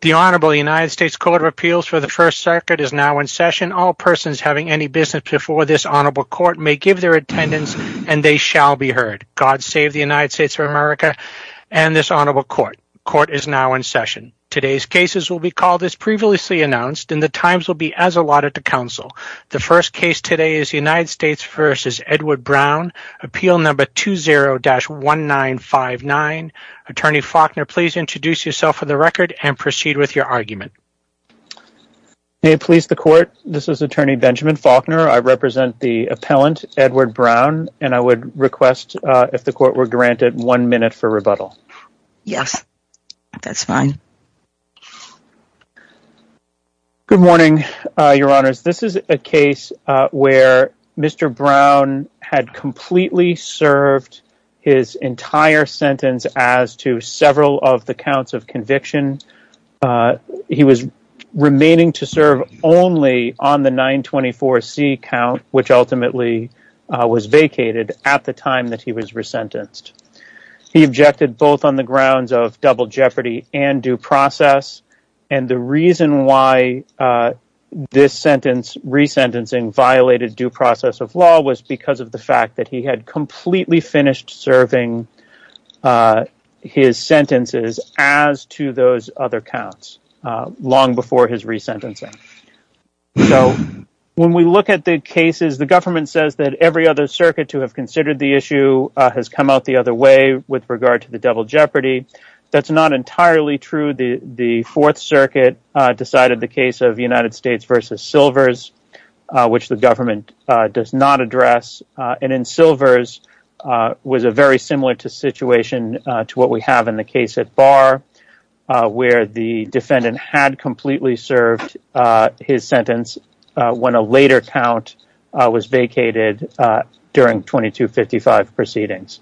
The Honorable United States Court of Appeals for the First Circuit is now in session. All persons having any business before this honorable court may give their attendance and they shall be heard. God save the United States of America and this honorable court. Court is now in session. Today's cases will be called as previously announced and the times will be as allotted to counsel. The first case today is United States v. Edward Brown, Appeal No. 20-1959. Attorney Faulkner, please introduce yourself for the record and proceed with your argument. May it please the court, this is attorney Benjamin Faulkner. I represent the appellant Edward Brown and I would request if the court were granted one minute for rebuttal. Yes, that's fine. Good morning, your honors. This is a case where Mr. Brown had completely served his entire sentence as to several of the counts of conviction. He was remaining to serve only on the 924C count which ultimately was vacated at the time that he was resentenced. He objected both on the grounds of double jeopardy and due process and the reason why this sentence resentencing violated due process of law was because of the fact that he had completely finished serving his sentences as to those other counts long before his resentencing. So when we look at the cases, the government says that every other circuit to have considered the issue has come out the other way with regard to the double jeopardy. That's not entirely true. The fourth circuit decided the case of United States v. Silvers which the government does not address and in Silvers was a very similar situation to what we have in the case at Barr where the defendant had completely served his sentence when a later count was vacated during 2255 proceedings.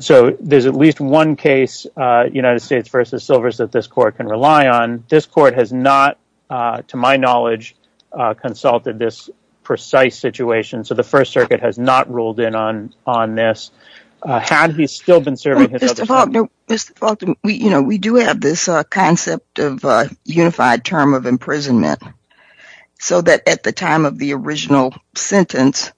So there's at least one United States v. Silvers that this court can rely on. This court has not, to my knowledge, consulted this precise situation so the first circuit has not ruled in on this had he still been serving his other sentence. Mr. Faulkner, we do have this concept of a unified term of imprisonment so that at the time of the original sentence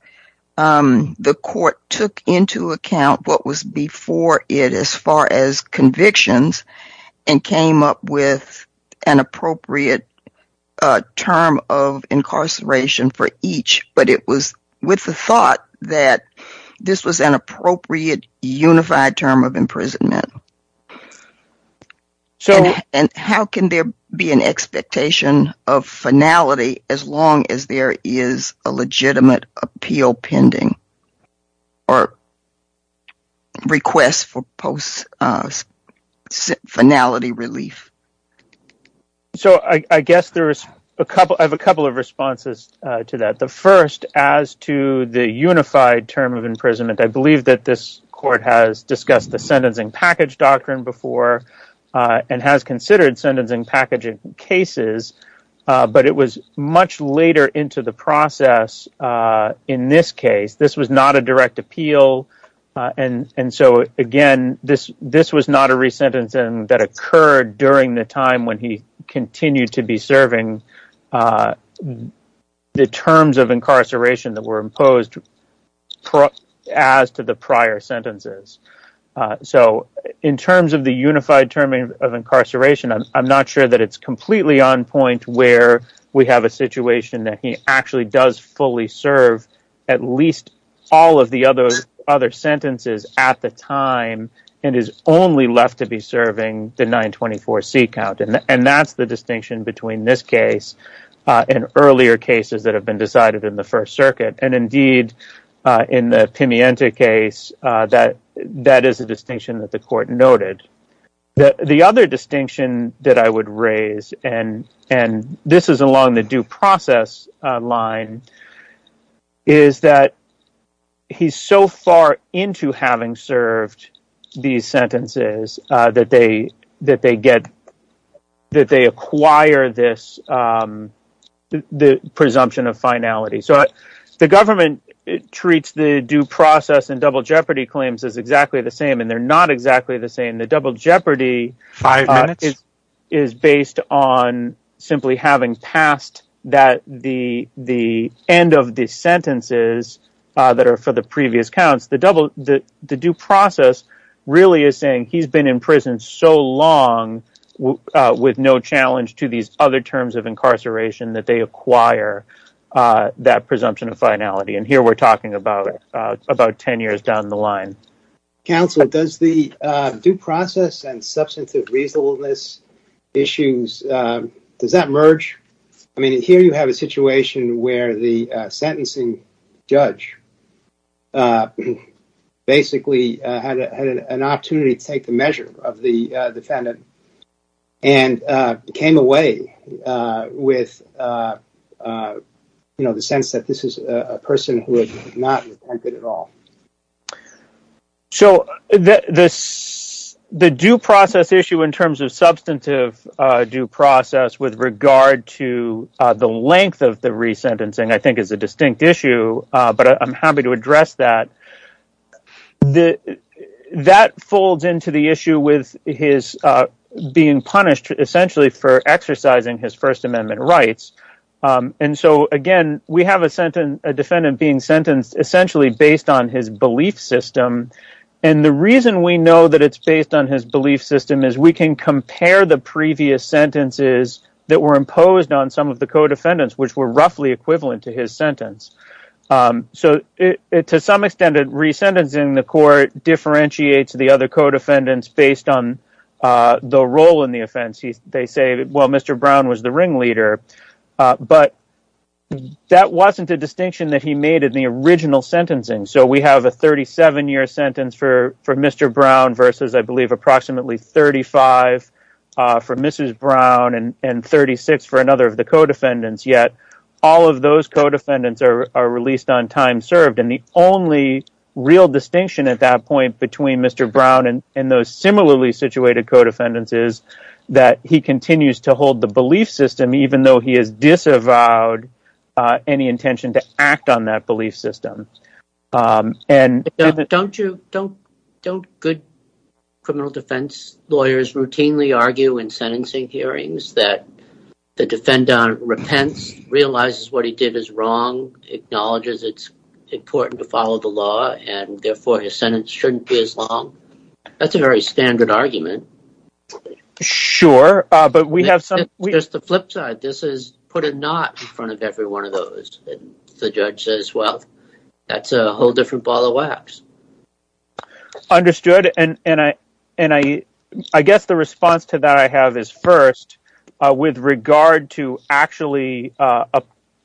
the court took into account what was before it as far as convictions and came up with an appropriate term of incarceration for each, but it was with the thought that this was an appropriate unified term of imprisonment. And how can there be an expectation of finality as long as there is a legitimate appeal pending or request for post finality relief? So I guess there is a couple of responses to that. The first as to the unified term of imprisonment, I believe that this court has discussed the sentencing package doctrine before and has considered sentencing packaging cases, but it was much later into the process in this case. This was not a direct appeal and so again, this was not a resentencing that occurred during the time when he continued to be serving the terms of incarceration that were imposed as to the prior sentences. So in terms of the unified term of incarceration, I'm not sure that it's completely on point where we have a situation that he actually does fully serve at least all of the other sentences at the time and is only left to be serving the 924C count. And that's the distinction between this case and earlier cases that have been decided in the First Circuit. And indeed, in the Pimienta case, that is a distinction that the court noted. The other distinction that I would raise, and this is along the due process line, is that he's so far into having served these sentences that they acquire this presumption of finality. So the government treats the due process and double jeopardy claims as exactly the same and they're not exactly the same. The double jeopardy is based on simply having passed the end of the sentences that are for the previous counts. The due process really is saying he's been in prison so long with no challenge to these other terms of incarceration that they acquire that presumption of finality. And here we're talking about 10 years down the line. Counsel, does the due process and substantive reasonableness issues, does that merge? I mean, here you have a situation where the sentencing judge basically had an opportunity to take the measure of the defendant and came away with the sense that this is a person who has not resented at all. So the due process issue in terms of substantive due process with regard to the length of the resentencing I think is a distinct issue, but I'm happy to address that. That folds into the issue with his being punished essentially for exercising his First Amendment rights. And so again, we have a defendant being sentenced essentially based on his belief system. And the reason we know that it's based on his belief system is we can compare the previous sentences that were imposed on some of the co-defendants which were roughly equivalent to his sentence. So to some extent, resentencing the court differentiates the other co-defendants based on the role in the offense. They say, well, Mr. Brown was the ringleader, but that wasn't a distinction that he made in the original sentencing. So we have a 37-year sentence for Mr. Brown versus I believe approximately 35 for Mrs. Brown and 36 for another of the co-defendants, yet all of those co-defendants are released on time served. And the only real distinction at that point between Mr. Brown and those similarly situated co-defendants is that he continues to hold the belief system even though he has disavowed any intention to act on that belief system. Don't good criminal defense lawyers routinely argue in sentencing repents, realizes what he did is wrong, acknowledges it's important to follow the law, and therefore his sentence shouldn't be as long? That's a very standard argument. Sure, but we have some... It's the flip side. This is put a knot in front of every one of those. The judge says, well, that's a whole different ball of wax. Understood. And I guess the response to that I have is first with regard to actually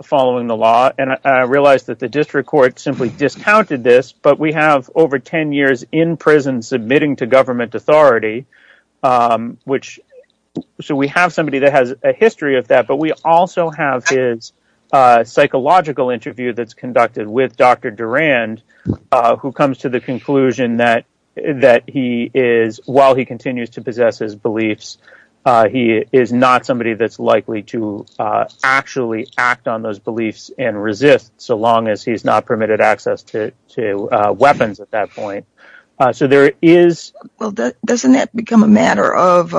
following the law. And I realize that the district court simply discounted this, but we have over 10 years in prison submitting to government authority. So we have somebody that has a history of that, but we also have his psychological interview that's conducted with Dr. Durand, who comes to the conclusion that while he continues to possess his beliefs, he is not somebody that's likely to actually act on those beliefs and resist so long as he's not permitted access to weapons at that point. So there is... Well, doesn't that become a matter of,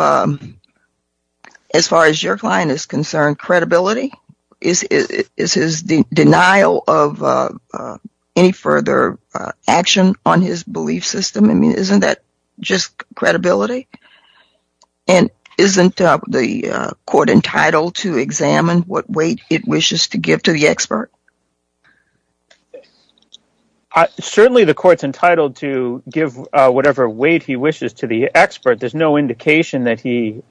as far as your client is concerned, credibility? Is his denial of any further action on his belief system? I mean, isn't that just credibility? And isn't the court entitled to examine what weight it wishes to give to the expert? Certainly the court's entitled to give whatever weight he wishes to the expert. There's no credibility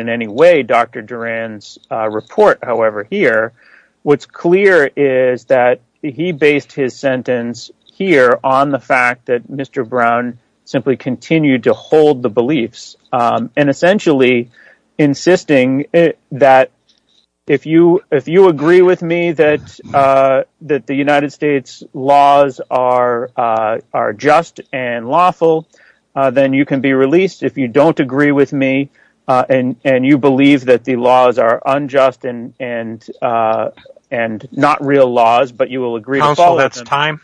in any way. Dr. Durand's report, however, here, what's clear is that he based his sentence here on the fact that Mr. Brown simply continued to hold the beliefs and essentially insisting that if you agree with me that the United States laws are just and lawful, then you can be released. If you don't agree with me and you believe that the laws are unjust and not real laws, but you will agree to follow them... Counsel, that's time.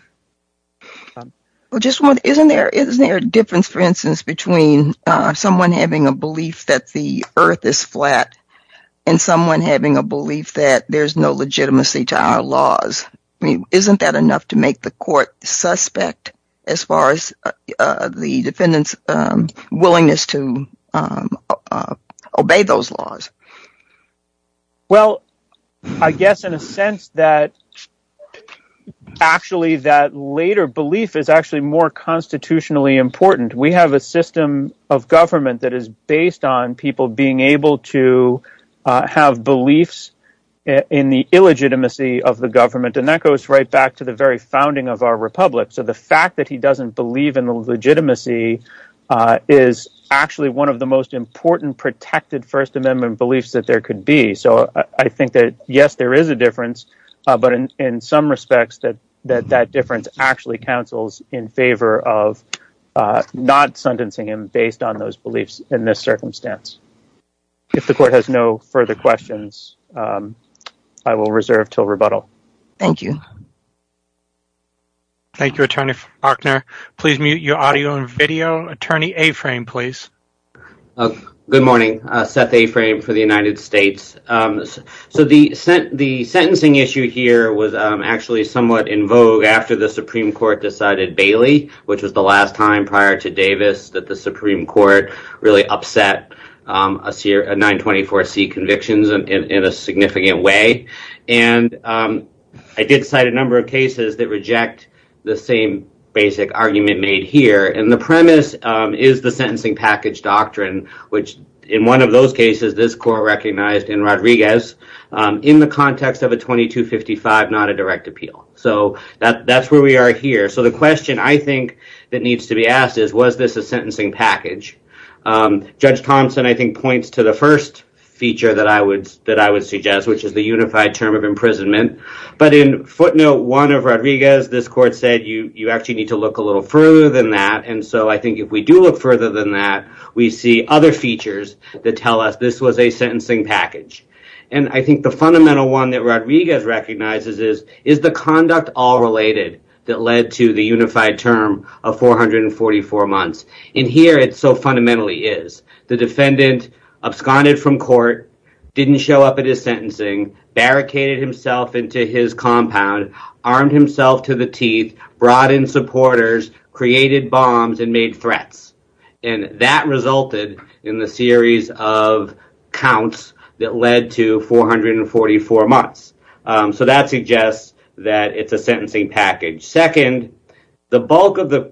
Well, isn't there a difference, for instance, between someone having a belief that the earth is flat and someone having a belief that there's no legitimacy to our laws? I mean, isn't that to make the court suspect as far as the defendant's willingness to obey those laws? Well, I guess in a sense that actually that later belief is actually more constitutionally important. We have a system of government that is based on people being able to have beliefs in the illegitimacy of the government. And that goes right back to the very founding of our republic. So the fact that he doesn't believe in the legitimacy is actually one of the most important protected First Amendment beliefs that there could be. So I think that, yes, there is a difference, but in some respects that that difference actually counsels in favor of not sentencing him based on those beliefs in this circumstance. If the court has no further questions, I will reserve till rebuttal. Thank you. Thank you, Attorney Faulkner. Please mute your audio and video. Attorney Aframe, please. Good morning. Seth Aframe for the United States. So the sentencing issue here was actually somewhat in vogue after the Supreme Court decided Bailey, which was the last time that the Supreme Court really upset a 924C convictions in a significant way. And I did cite a number of cases that reject the same basic argument made here. And the premise is the sentencing package doctrine, which in one of those cases, this court recognized in Rodriguez in the context of a 2255, not a direct appeal. So that's where we are here. So the question I think that needs to be asked is, was this a sentencing package? Judge Thompson, I think, points to the first feature that I would suggest, which is the unified term of imprisonment. But in footnote one of Rodriguez, this court said, you actually need to look a little further than that. And so I think if we do look further than that, we see other features that tell us this was a sentencing package. And I think the fundamental one that unified term of 444 months. And here it's so fundamentally is. The defendant absconded from court, didn't show up at his sentencing, barricaded himself into his compound, armed himself to the teeth, brought in supporters, created bombs and made threats. And that resulted in the series of counts that led to 444 months. So that suggests that it's a sentencing package. Second, the bulk of the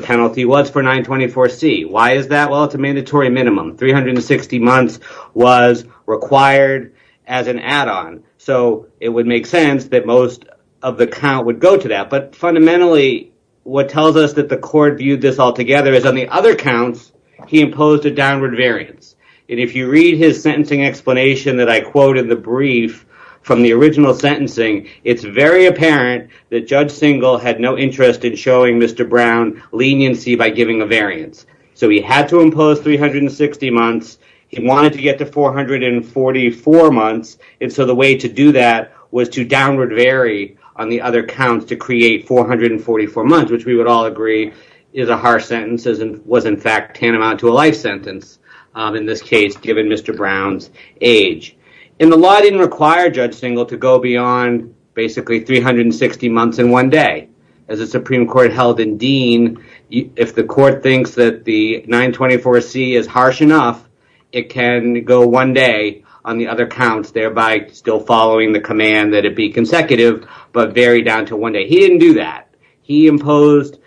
penalty was for 924C. Why is that? Well, it's a mandatory minimum. 360 months was required as an add-on. So it would make sense that most of the count would go to that. But fundamentally, what tells us that the court viewed this altogether is on the other counts, he imposed a downward variance. And if you read his sentencing explanation that I quote in the brief from the original sentencing, it's very apparent that Judge Singal had no interest in showing Mr. Brown leniency by giving a variance. So he had to impose 360 months. He wanted to get to 444 months. And so the way to do that was to downward vary on the other counts to create 444 months, which we would all agree is a harsh sentence and was, in fact, tantamount to a life sentence, in this case, given Mr. Brown's age. And the law didn't require Judge Singal to go beyond basically 360 months in one day. As the Supreme Court held in Dean, if the court thinks that the 924C is harsh enough, it can go one day on the other counts, thereby still following the command that it be consecutive, but vary down to one day. He didn't do that. He imposed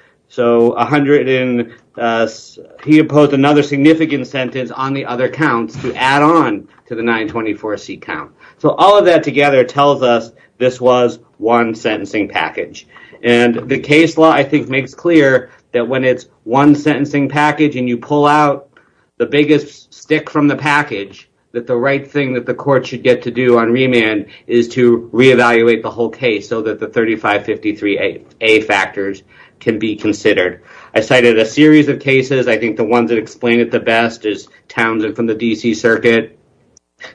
another significant sentence on the other counts to add on to the 924C count. So all of that together tells us this was one sentencing package. And the case law, I think, makes clear that when it's one sentencing package and you pull out the biggest stick from the package, that the right thing that the court should get to do on remand is to reevaluate the whole case so that the 3553A factors can be considered. I cited a series of cases. I think the ones that explain it the best is Townsend from the D.C. Circuit,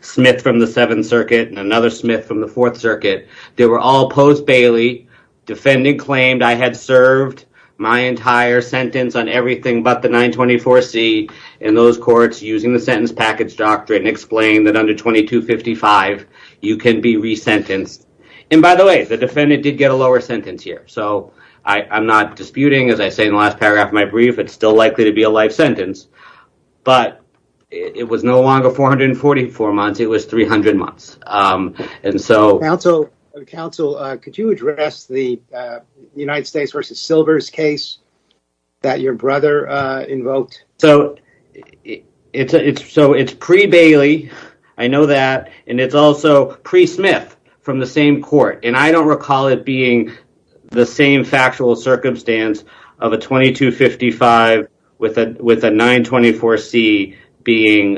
Smith from the 7th Circuit, and another Smith from the 4th Circuit. They were all post Bailey. Defendant claimed I had served my entire sentence on everything but the 924C. And those courts, using the sentence package doctrine, explain that under 2255, you can be resentenced. And by the way, the defendant did get a lower sentence here. So I'm not disputing, as I say in the last paragraph of my brief, it's still likely to be a life sentence. But it was no longer 444 months. It was 300 months. And so, counsel, could you address the United States v. Silvers case that your brother invoked? So it's pre-Bailey. I know that. And it's also pre-Smith from the same court. And I don't recall it being the same factual circumstance of a 2255 with a 924C being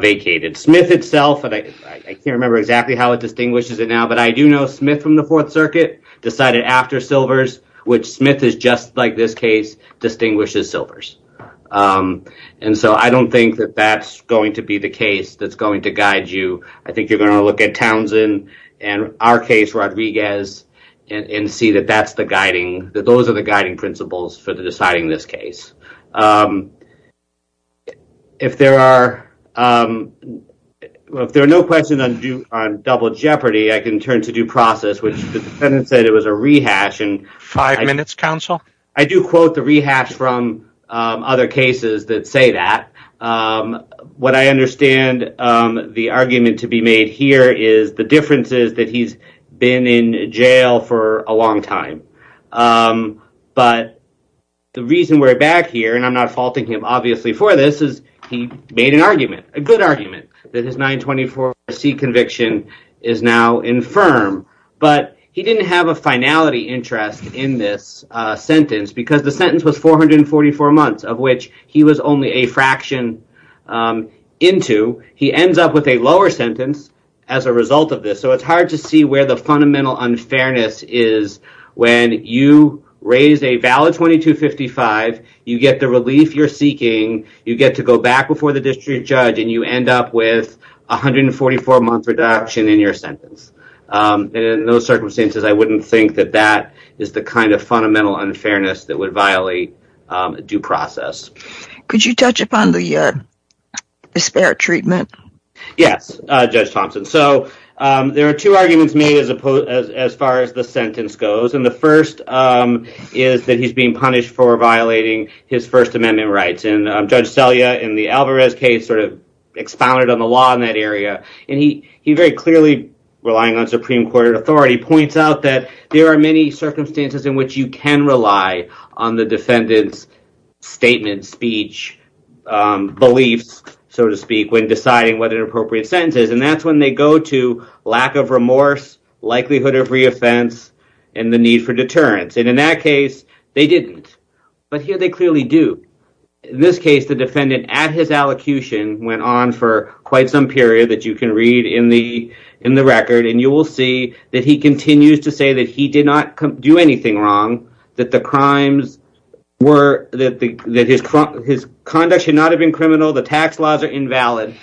vacated. Smith itself, I can't remember exactly how it distinguishes it now, but I do know Smith from Silvers. And so I don't think that that's going to be the case that's going to guide you. I think you're going to look at Townsend and our case, Rodriguez, and see that those are the guiding principles for deciding this case. If there are no questions on double jeopardy, I can turn to due process, which the defendant said it was a rehash. Five minutes, counsel. I do quote the rehash from other cases that say that. What I understand the argument to be made here is the differences that he's been in jail for a long time. But the reason we're back here, and I'm not faulting him obviously for this, is he made an argument, a good argument, that his 924C conviction is now infirm. But he didn't have a finality interest in this sentence, because the sentence was 444 months, of which he was only a fraction into. He ends up with a lower sentence as a result of this. So it's hard to see where the fundamental unfairness is when you raise a valid 2255, you get the relief you're seeking, you get to go back before the district judge, and you end up with a 144-month reduction in your sentence. In those circumstances, I wouldn't think that that is the kind of fundamental unfairness that would violate due process. Could you touch upon the disparate treatment? Yes, Judge Thompson. So there are two arguments made as far as the sentence goes. And the first is that he's being punished for violating his in the Alvarez case, sort of expounded on the law in that area. And he very clearly, relying on Supreme Court authority, points out that there are many circumstances in which you can rely on the defendant's statement, speech, beliefs, so to speak, when deciding what an appropriate sentence is. And that's when they go to lack of remorse, likelihood of reoffense, and the need for deterrence. And in that case, they didn't. But here they clearly do. In this case, the defendant, at his allocution, went on for quite some period, that you can read in the record, and you will see that he continues to say that he did not do anything wrong, that the crimes were, that his conduct should not have been criminal, the tax laws are invalid.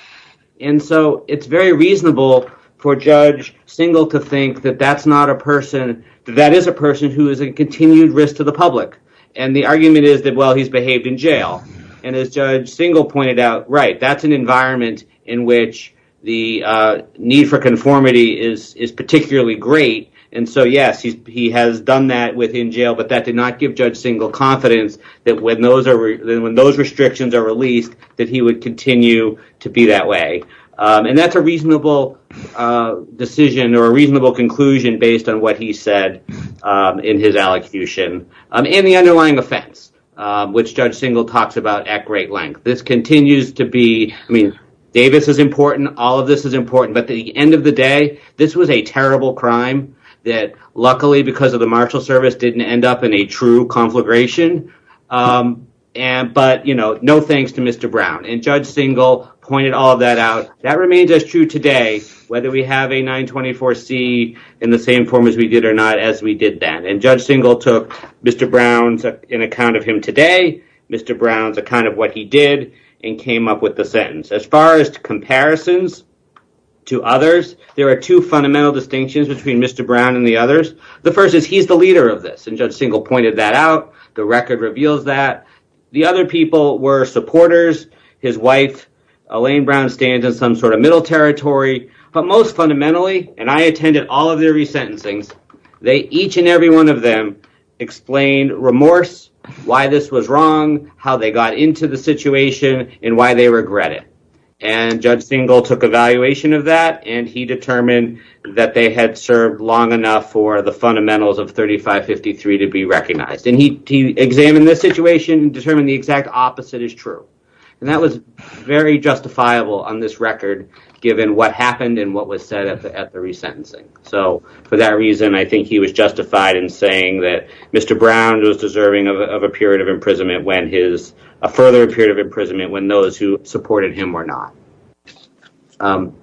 And so it's very reasonable for a judge, single, to think that that's not a person, that is a person who is a continued risk to the public. And the argument is that, well, he's behaved in jail. And as Judge Single pointed out, right, that's an environment in which the need for conformity is particularly great. And so, yes, he has done that within jail, but that did not give Judge Single confidence that when those restrictions are released, that he would continue to be that way. And that's a reasonable decision, or a reasonable conclusion, based on what he said in his allocution, and the underlying offense, which Judge Single talks about at great length. This continues to be, I mean, Davis is important, all of this is important, but at the end of the day, this was a terrible crime that, luckily, because of the marshal service, didn't end up in a true conflagration. But, you know, no thanks to Mr. Brown. And Judge Single pointed all that out. That remains as true today, whether we have a 924C in the same form as we did or not, as we did then. And Judge Single took Mr. Brown's, in account of him today, Mr. Brown's account of what he did, and came up with the sentence. As far as comparisons to others, there are two fundamental distinctions between Mr. Brown and the others. The first is he's the leader of this, and Judge Single pointed that out. The record reveals that. The other people were supporters, his wife, Elaine Brown stands in some sort of middle territory. But most fundamentally, and I attended all of their resentencings, they, each and every one of them, explained remorse, why this was wrong, how they got into the situation, and why they regret it. And Judge Single took evaluation of that, and he determined that they had served long enough for the fundamentals of 3553 to be recognized. And he examined this situation, determined the exact opposite is true. That was very justifiable on this record, given what happened and what was said at the resentencing. So for that reason, I think he was justified in saying that Mr. Brown was deserving of a period of imprisonment when his, a further period of imprisonment, when those who supported him were not.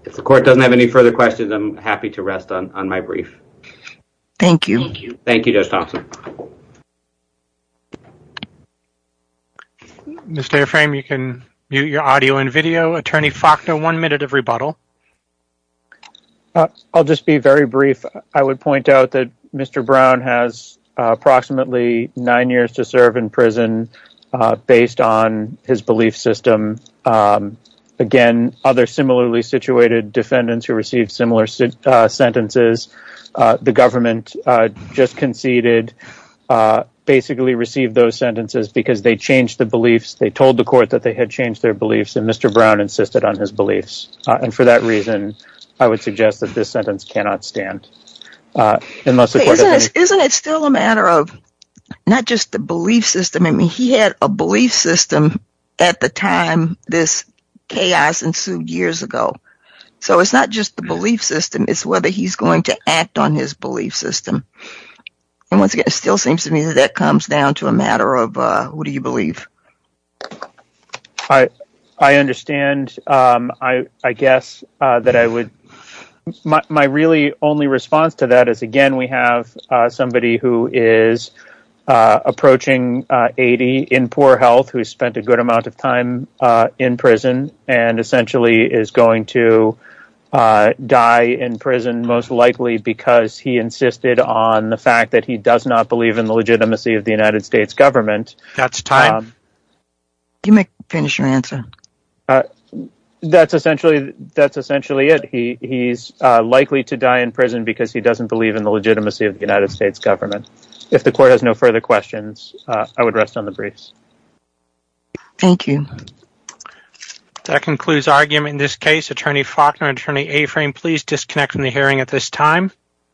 If the court doesn't have any further questions, I'm happy to rest on my brief. Thank you. Thank you, Judge Thompson. Mr. Airframe, you can mute your audio and video. Attorney Faulkner, one minute of rebuttal. I'll just be very brief. I would point out that Mr. Brown has approximately nine years to serve in prison, based on his belief system. Again, other similarly situated defendants who received similar sentences, the government just conceded, basically received those sentences because they changed the beliefs. They told the court that they had changed their beliefs, and Mr. Brown insisted on his beliefs. And for that reason, I would suggest that this sentence cannot stand. Isn't it still a matter of not just the belief system? I mean, he had a belief system at the time this chaos ensued years ago. So it's not just the belief system, it's whether he's going to act on his belief system. And once again, it still seems to me that that comes down to a matter of, what do you believe? I understand. I guess that I would, my really only response to that is, again, we have somebody who is approaching 80, in poor health, who spent a good amount of time in prison, and essentially is going to die in prison, most likely because he insisted on the fact that he does not believe in the legitimacy of the United States government. That's essentially it. He's likely to die in prison because he doesn't believe in the legitimacy of the United States government. If the court has no further questions, I would rest on the briefs. Thank you. That concludes argument in this case. Attorney Faulkner, Attorney Aframe, please disconnect from the hearing at this time.